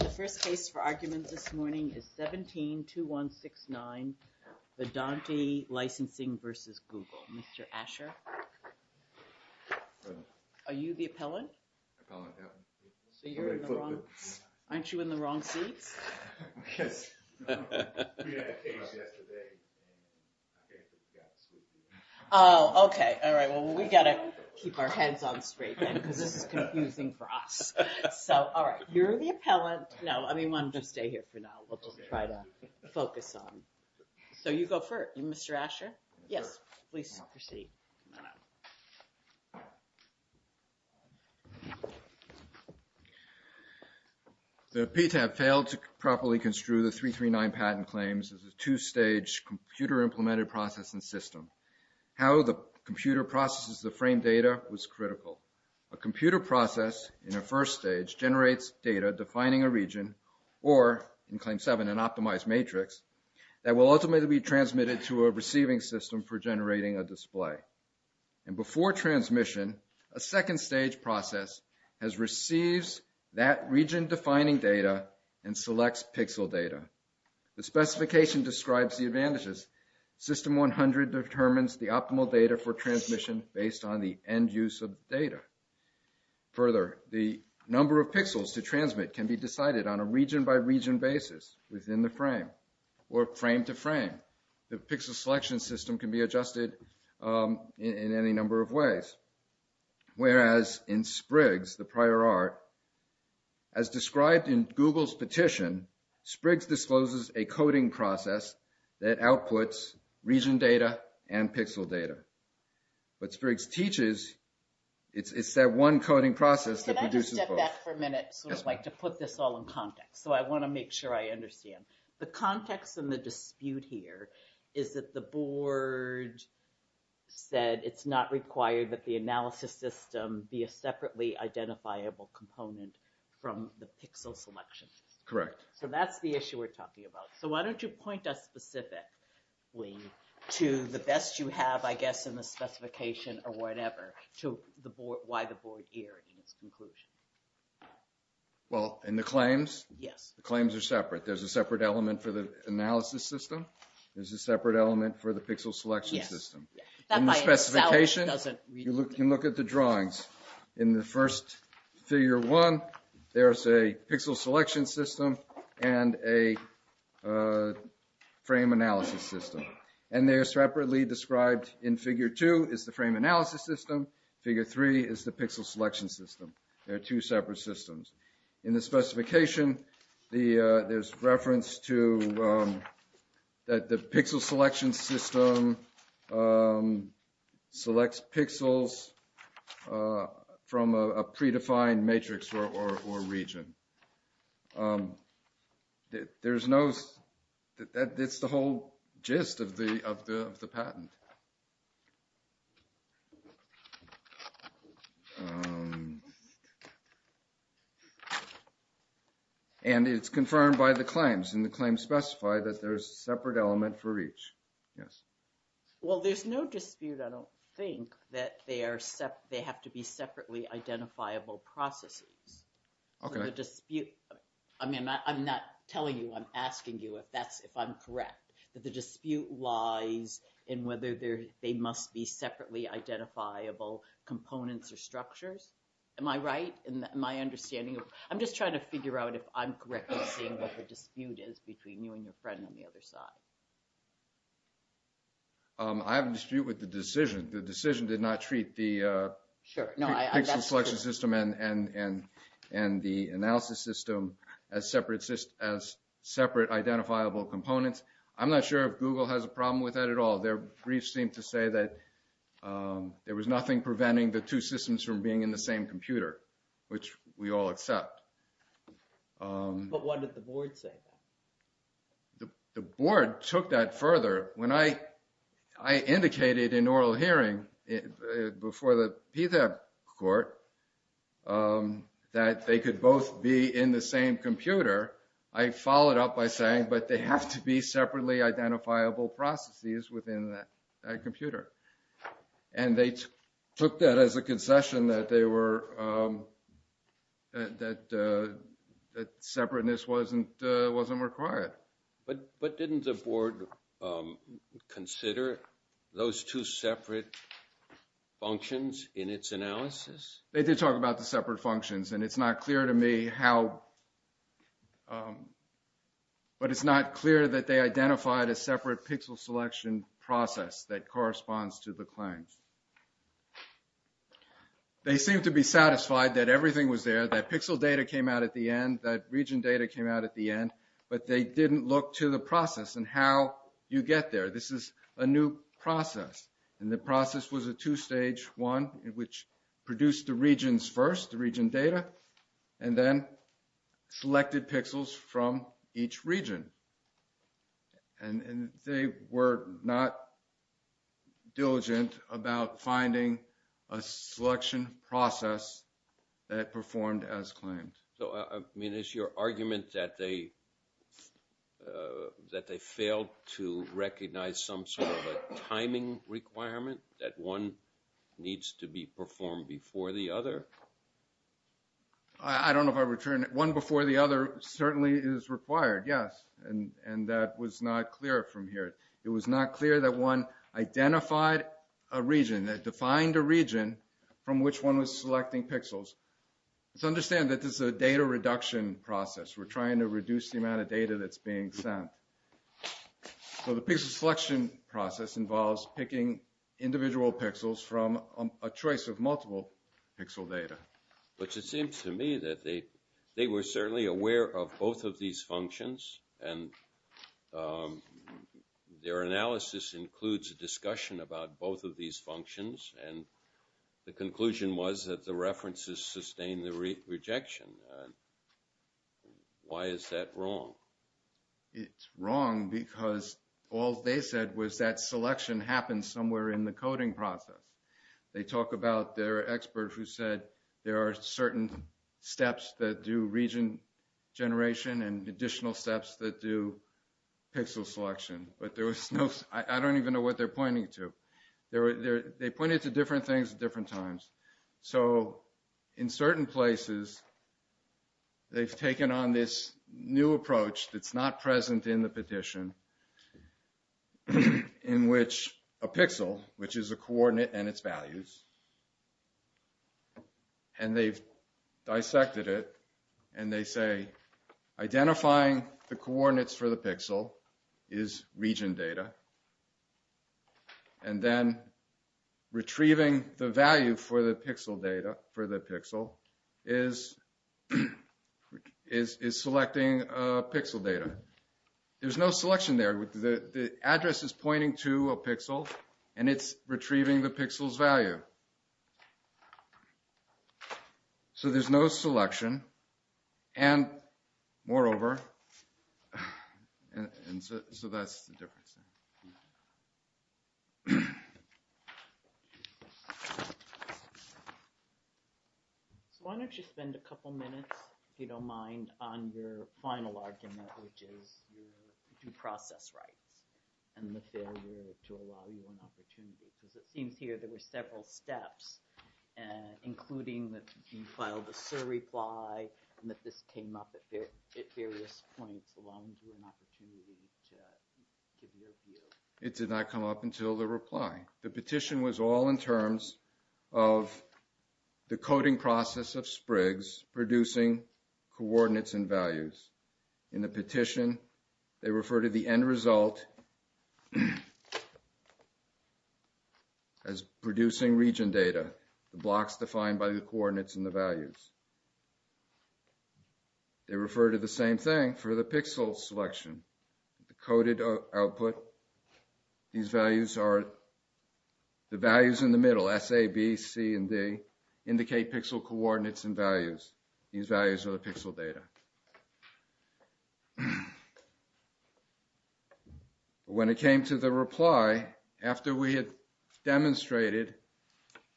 The first case for argument this morning is 17-2169 Vedanti Licensing v. Google. Mr. Asher? Are you the appellant? Appellant, yep. So you're in the wrong, aren't you in the wrong seats? Yes. We had a case yesterday and I think we got sued. Oh, okay. All right. Well, we got to keep our heads on straight then because this is confusing for us. So, all right. You're the appellant. No, I mean, we'll just stay here for now. We'll just try to focus on. So you go first. Mr. Asher? Yes, please proceed. The PTAP failed to properly construe the 339 patent claims as a two-stage computer-implemented processing system. How the computer processes the frame data was critical. A computer process in a first stage generates data defining a region or, in Claim 7, an optimized matrix that will ultimately be transmitted to a receiving system for generating a display. And before transmission, a second stage process has received that region-defining data and selects pixel data. The specification describes the advantages. System 100 determines the optimal data for transmission based on the end use of data. Further, the number of pixels to transmit can be decided on a region-by-region basis within the frame or frame-to-frame. The pixel selection system can be adjusted in any number of ways. Whereas in SPRIGS, the prior art, as described in Google's petition, SPRIGS discloses a coding process that outputs region data and pixel data. What SPRIGS teaches, it's that one coding process that produces both. Can I just step back for a minute to put this all in context? So I want to make sure I understand. The context and the dispute here is that the board said it's not required that the analysis system be a separately identifiable component from the pixel selection. Correct. So that's the issue we're talking about. So why don't you point us specifically to the best you have, I guess, in the specification or whatever, to why the board erred in its conclusion. Well, in the claims? Yes. The claims are separate. There's a separate element for the analysis system. There's a separate element for the pixel selection system. In the specification, you can look at the drawings. In the first figure one, there's a pixel selection system and a frame analysis system. And they're separately described in figure two is the frame analysis system. Figure three is the pixel selection system. They're two separate systems. In the specification, there's reference to that the pixel selection system selects pixels from a predefined matrix or region. It's the whole gist of the patent. And it's confirmed by the claims. And the claims specify that there's a separate element for each. Yes. Well, there's no dispute, I don't think, that they have to be separately identifiable processes. Okay. So the dispute, I mean, I'm not telling you, I'm asking you if I'm correct, that the dispute lies in whether they must be separately identifiable components or structures. Am I right in my understanding? I'm just trying to figure out if I'm correct in seeing what the dispute is between you and your friend on the other side. I have a dispute with the decision. The decision did not treat the pixel selection system and the analysis system as separate identifiable components. I'm not sure if Google has a problem with that at all. Their briefs seem to say that there was nothing preventing the two systems from being in the same computer, which we all accept. But what did the board say? The board took that further. When I indicated in oral hearing before the PTAC court that they could both be in the same computer, I followed up by saying, but they have to be separately identifiable processes within that computer. And they took that as a concession that they were, that separateness wasn't required. But didn't the board consider those two separate functions in its analysis? They did talk about the separate functions and it's not clear to me how, but it's not clear that they identified a separate pixel selection process that corresponds to the claims. They seem to be satisfied that everything was there, that pixel data came out at the end, that region data came out at the end, but they didn't look to the process and how you get there. This is a new process. And the process was a two-stage one, which produced the regions first, the region data, and then selected pixels from each region. And they were not diligent about finding a selection process that performed as claimed. So, I mean, is your argument that they, that they failed to recognize some sort of a timing requirement that one needs to be performed before the other? I don't know if I return it. One before the other certainly is required, yes. And that was not clear from here. It was not clear that one identified a region, that defined a region from which one was selecting pixels. So understand that this is a data reduction process. We're trying to reduce the amount of data that's being sent. So the pixel selection process involves picking individual pixels from a choice of multiple pixel data. But it seems to me that they were certainly aware of both of these functions. And their analysis includes a discussion about both of these functions. And the conclusion was that the references sustained the rejection. Why is that wrong? It's wrong because all they said was that selection happens somewhere in the coding process. They talk about their expert who said there are certain steps that do region generation and additional steps that do pixel selection. But there was no, I don't even know what they're pointing to. They pointed to different things at different times. So in certain places they've taken on this new approach that's not present in the petition. In which a pixel, which is a coordinate and its values. And they've dissected it. And they say identifying the coordinates for the pixel is region data. And then retrieving the value for the pixel data is selecting pixel data. There's no selection there. The address is pointing to a pixel and it's retrieving the pixel's value. So there's no selection. And moreover, so that's the difference. So why don't you spend a couple minutes, if you don't mind, on your final argument. Which is your due process rights and the failure to allow you an opportunity. Because it seems here there were several steps. Including that you filed a sur-reply and that this came up at various points. Allowing you an opportunity to give your view. It did not come up until the reply. The petition was all in terms of the coding process of SPRGS producing coordinates and values. In the petition they refer to the end result as producing region data. The blocks defined by the coordinates and the values. They refer to the same thing for the pixel selection. The coded output. These values are the values in the middle. S, A, B, C, and D. Indicate pixel coordinates and values. These values are the pixel data. When it came to the reply. After we had demonstrated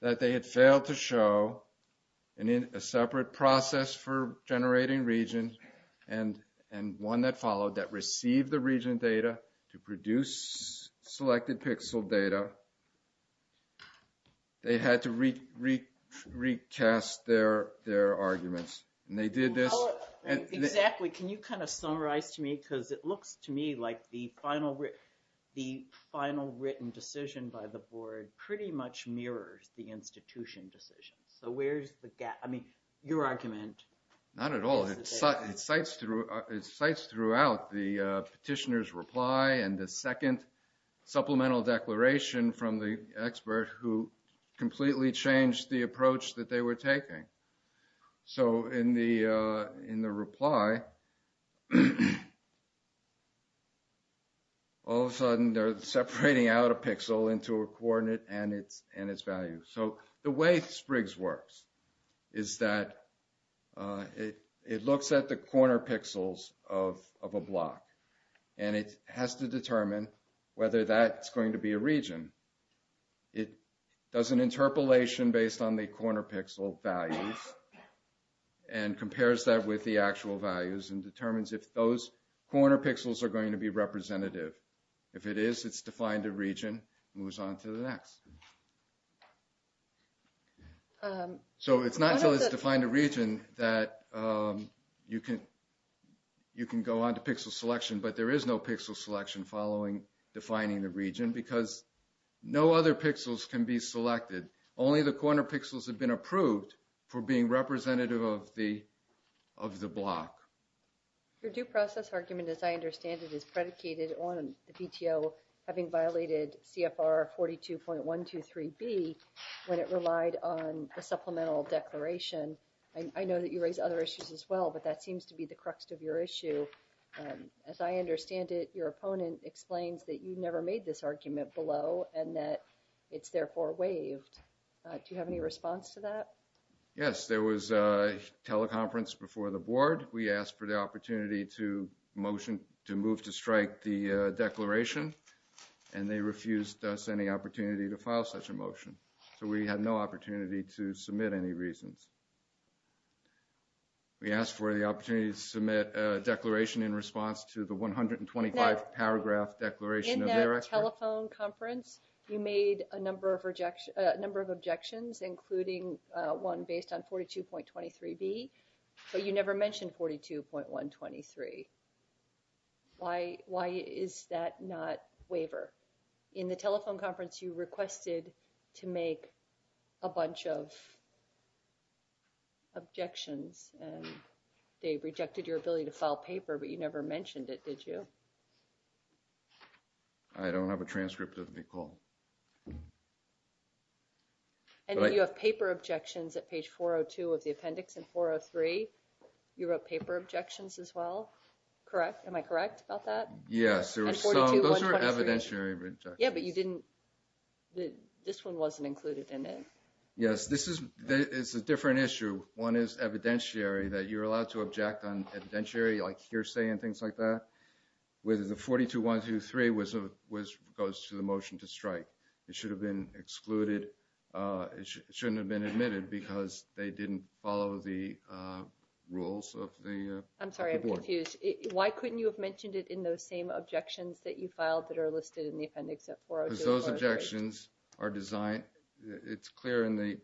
that they had failed to show a separate process for generating region. And one that followed that received the region data to produce selected pixel data. They had to recast their arguments. Can you summarize to me. It looks to me like the final written decision by the board pretty much mirrors the institution decision. Your argument. Not at all. It cites throughout the petitioner's reply. And the second supplemental declaration from the expert. Who completely changed the approach that they were taking. In the reply. All of a sudden they are separating out a pixel into a coordinate and its value. The way SPRGS works. Is that. It looks at the corner pixels of a block. And it has to determine whether that is going to be a region. It does an interpolation based on the corner pixel values. And compares that with the actual values. And determines if those corner pixels are going to be representative. If it is, it's defined a region. Moves on to the next. So it's not until it's defined a region. That you can. You can go on to pixel selection, but there is no pixel selection following. Defining the region because. No other pixels can be selected. Only the corner pixels have been approved. For being representative of the. Of the block. Your due process argument, as I understand it is predicated on the. Having violated CFR 42.123 B. When it relied on a supplemental declaration. I know that you raise other issues as well, but that seems to be the crux of your issue. As I understand it, your opponent explains that you never made this argument below. And that it's therefore waived. Do you have any response to that? Yes, there was a teleconference before the board. We asked for the opportunity to motion to move to strike the declaration. And they refused us any opportunity to file such a motion. So we had no opportunity to submit any reasons. We asked for the opportunity to submit a declaration in response to the 125 paragraph declaration telephone conference. You made a number of rejection number of objections, including one based on 42.23 B. But you never mentioned 42.123. Why why is that not waiver? In the telephone conference, you requested to make. A bunch of. Objections, and they rejected your ability to file paper, but you never mentioned it. Did you. I don't have a transcript of Nicole. And you have paper objections at page 402 of the appendix and 403. You wrote paper objections as well. Correct. Am I correct about that? Yes, those are evidentiary. Yeah, but you didn't. This one wasn't included in it. Yes, this is it's a different issue. One is evidentiary that you're allowed to object on. Like, you're saying things like that with the 42.123 was a was goes to the motion to strike. It should have been excluded. It shouldn't have been admitted because they didn't follow the rules of the. I'm sorry, I'm confused. Why couldn't you have mentioned it in those same objections that you filed that are listed in the appendix? Those objections are designed. It's clear in the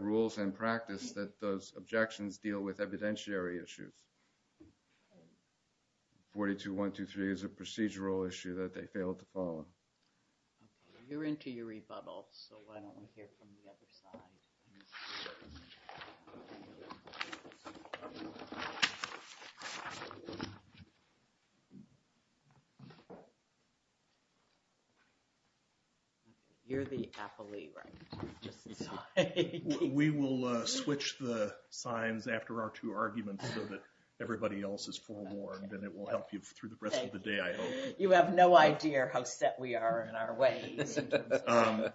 rules and practice that those objections deal with evidentiary issues. 42.123 is a procedural issue that they failed to follow. You're into your rebuttal, so why don't we hear from the other side? You're the appellee, right? We will switch the signs after our two arguments so that everybody else is forewarned and it will help you through the rest of the day. You have no idea how set we are in our way.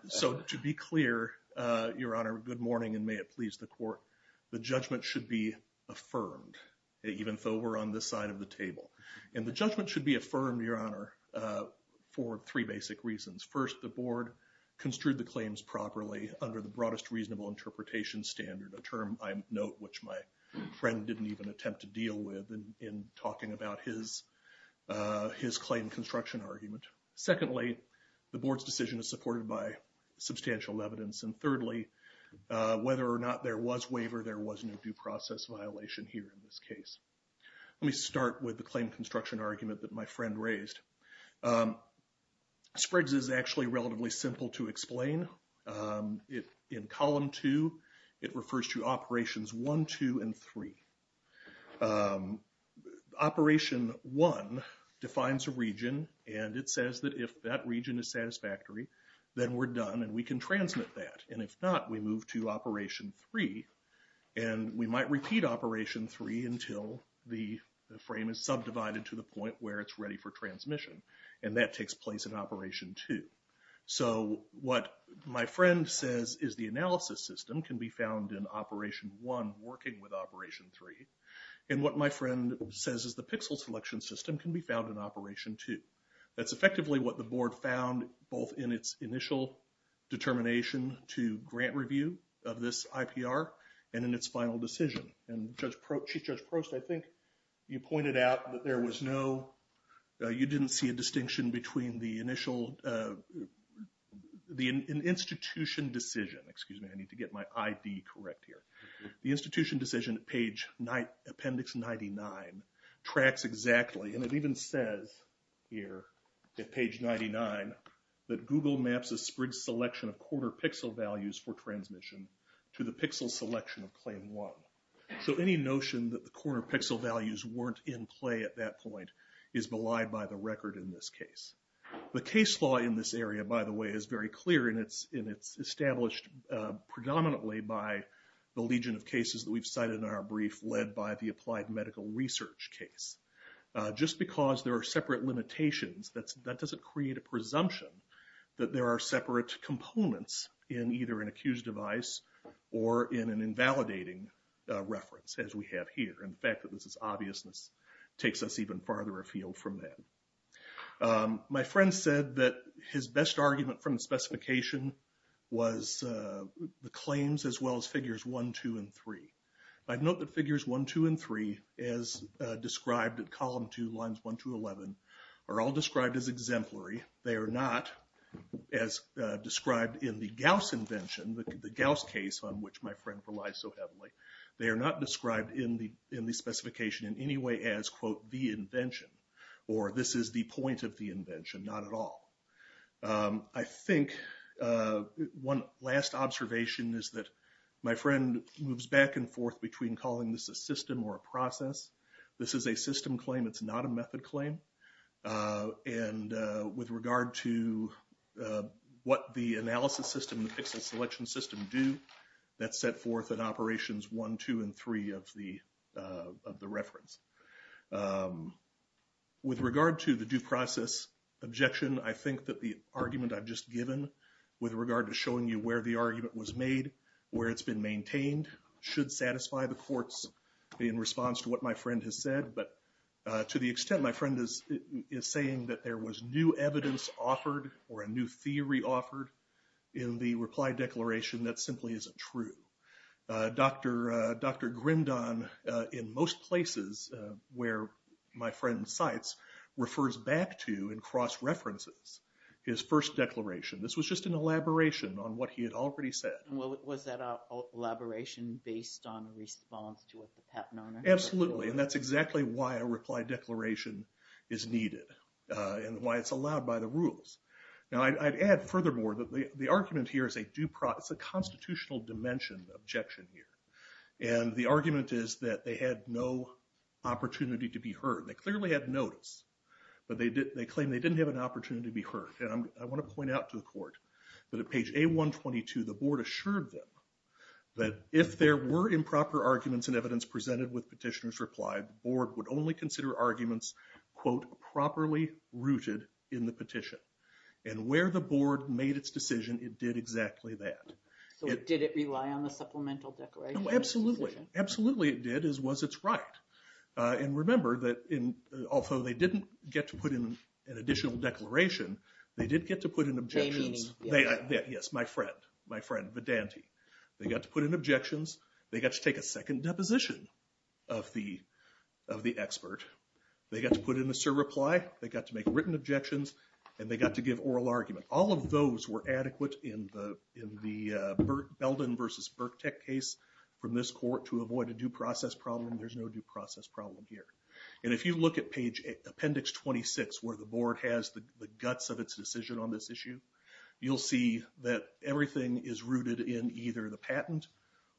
So to be clear, your honor, good morning and may it please the court. The judgment should be affirmed, even though we're on the side of the table and the judgment should be affirmed, your honor, for three basic reasons. First, the board construed the claims properly under the broadest reasonable interpretation standard, a term I note, which my friend didn't even attempt to deal with. In talking about his claim construction argument. Secondly, the board's decision is supported by substantial evidence. And thirdly, whether or not there was waiver, there was no due process violation here in this case. Let me start with the claim construction argument that my friend raised. SPRGS is actually relatively simple to explain. In column two, it refers to operations one, two and three. Operation one defines a region and it says that if that region is satisfactory, then we're done and we can transmit that. And if not, we move to operation three and we might repeat operation three until the frame is subdivided to the point where it's ready for transmission. And that takes place in operation two. So what my friend says is the analysis system can be found in operation one working with operation three. And what my friend says is the pixel selection system can be found in operation two. That's effectively what the board found both in its initial determination to grant review of this IPR and in its final decision. And Chief Judge Prost, I think you pointed out that there was no, you didn't see a distinction between the initial, the institution decision. Excuse me, I need to get my ID correct here. The institution decision at page, appendix 99, tracks exactly, and it even says here at page 99, that Google maps a SPRGS selection of corner pixel values for transmission to the pixel selection of claim one. So any notion that the corner pixel values weren't in play at that point is belied by the record in this case. The case law in this area, by the way, is very clear and it's established predominantly by the legion of cases that we've cited in our brief led by the applied medical research case. Just because there are separate limitations, that doesn't create a presumption that there are separate components in either an accused device or in an invalidating reference as we have here. And the fact that this is obvious takes us even farther afield from that. My friend said that his best argument from the specification was the claims as well as figures 1, 2, and 3. I'd note that figures 1, 2, and 3, as described in column 2, lines 1 to 11, are all described as exemplary. They are not as described in the Gauss invention, the Gauss case on which my friend relies so heavily. They are not described in the specification in any way as quote, the invention. Or this is the point of the invention, not at all. I think one last observation is that my friend moves back and forth between calling this a system or a process. This is a system claim, it's not a method claim. And with regard to what the analysis system and the pixel selection system do, that's set forth in operations 1, 2, and 3 of the reference. With regard to the due process objection, I think that the argument I've just given, with regard to showing you where the argument was made, where it's been maintained, should satisfy the court's response to what my friend has said. But to the extent my friend is saying that there was new evidence offered, or a new theory offered in the reply declaration, that simply isn't true. Dr. Grindon, in most places where my friend cites, refers back to in cross-references his first declaration. This was just an elaboration on what he had already said. Well, was that an elaboration based on a response to what the patent owner had said? Absolutely, and that's exactly why a reply declaration is needed, and why it's allowed by the rules. Now, I'd add furthermore that the argument here is a constitutional dimension objection here. And the argument is that they had no opportunity to be heard. They clearly had notice, but they claim they didn't have an opportunity to be heard. And I want to point out to the court that at page A122, the board assured them that if there were improper arguments and evidence presented with petitioner's reply, the board would only consider arguments, quote, properly rooted in the petition. And where the board made its decision, it did exactly that. So did it rely on the supplemental declaration? No, absolutely. Absolutely it did, as was its right. And remember that although they didn't get to put in an additional declaration, they did get to put in objections. Yes, my friend, my friend, Vedanti. They got to put in objections. They got to take a second deposition of the expert. They got to put in a surreply. They got to make written objections, and they got to give oral argument. All of those were adequate in the Belden v. Birktec case from this court to avoid a due process problem. There's no due process problem here. And if you look at page Appendix 26 where the board has the guts of its decision on this issue, you'll see that everything is rooted in either the patent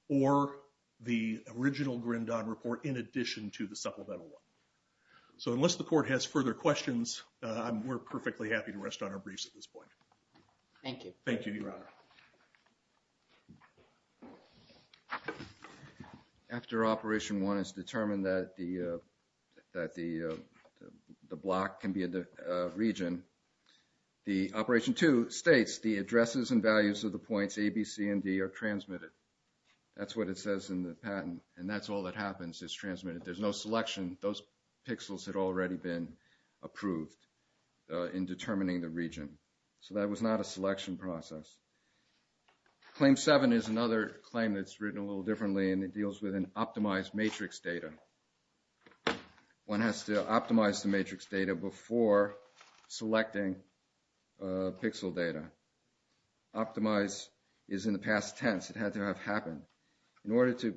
or the original Grindon report in addition to the supplemental one. So unless the court has further questions, we're perfectly happy to rest on our briefs at this point. Thank you. Thank you, Your Honor. After Operation 1 is determined that the block can be a region, the Operation 2 states the addresses and values of the points A, B, C, and D are transmitted. That's what it says in the patent, and that's all that happens is transmitted. There's no selection. Those pixels had already been approved in determining the region. So that was not a selection process. Claim 7 is another claim that's written a little differently, and it deals with an optimized matrix data. One has to optimize the matrix data before selecting pixel data. Optimize is in the past tense. It had to have happened. In order to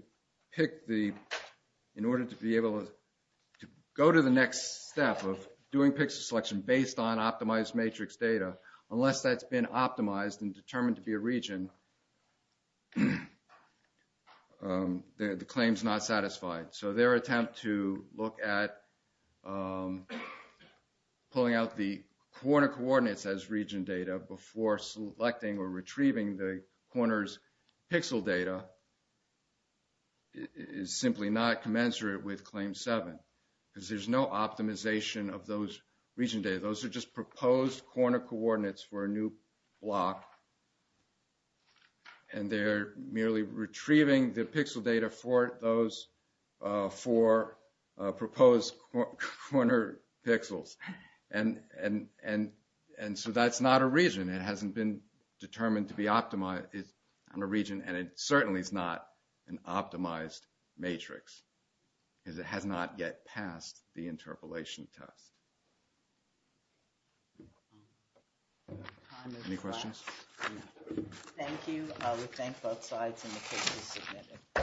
go to the next step of doing pixel selection based on optimized matrix data, unless that's been optimized and determined to be a region, the claim is not satisfied. So their attempt to look at pulling out the corner coordinates as region data before selecting or retrieving the corner's pixel data is simply not commensurate with Claim 7, because there's no optimization of those region data. Those are just proposed corner coordinates for a new block, and they're merely retrieving the pixel data for proposed corner pixels. And so that's not a region. It hasn't been determined to be optimized in a region, and it certainly is not an optimized matrix, because it has not yet passed the interpolation test. Any questions? Thank you. We thank both sides and the case is submitted.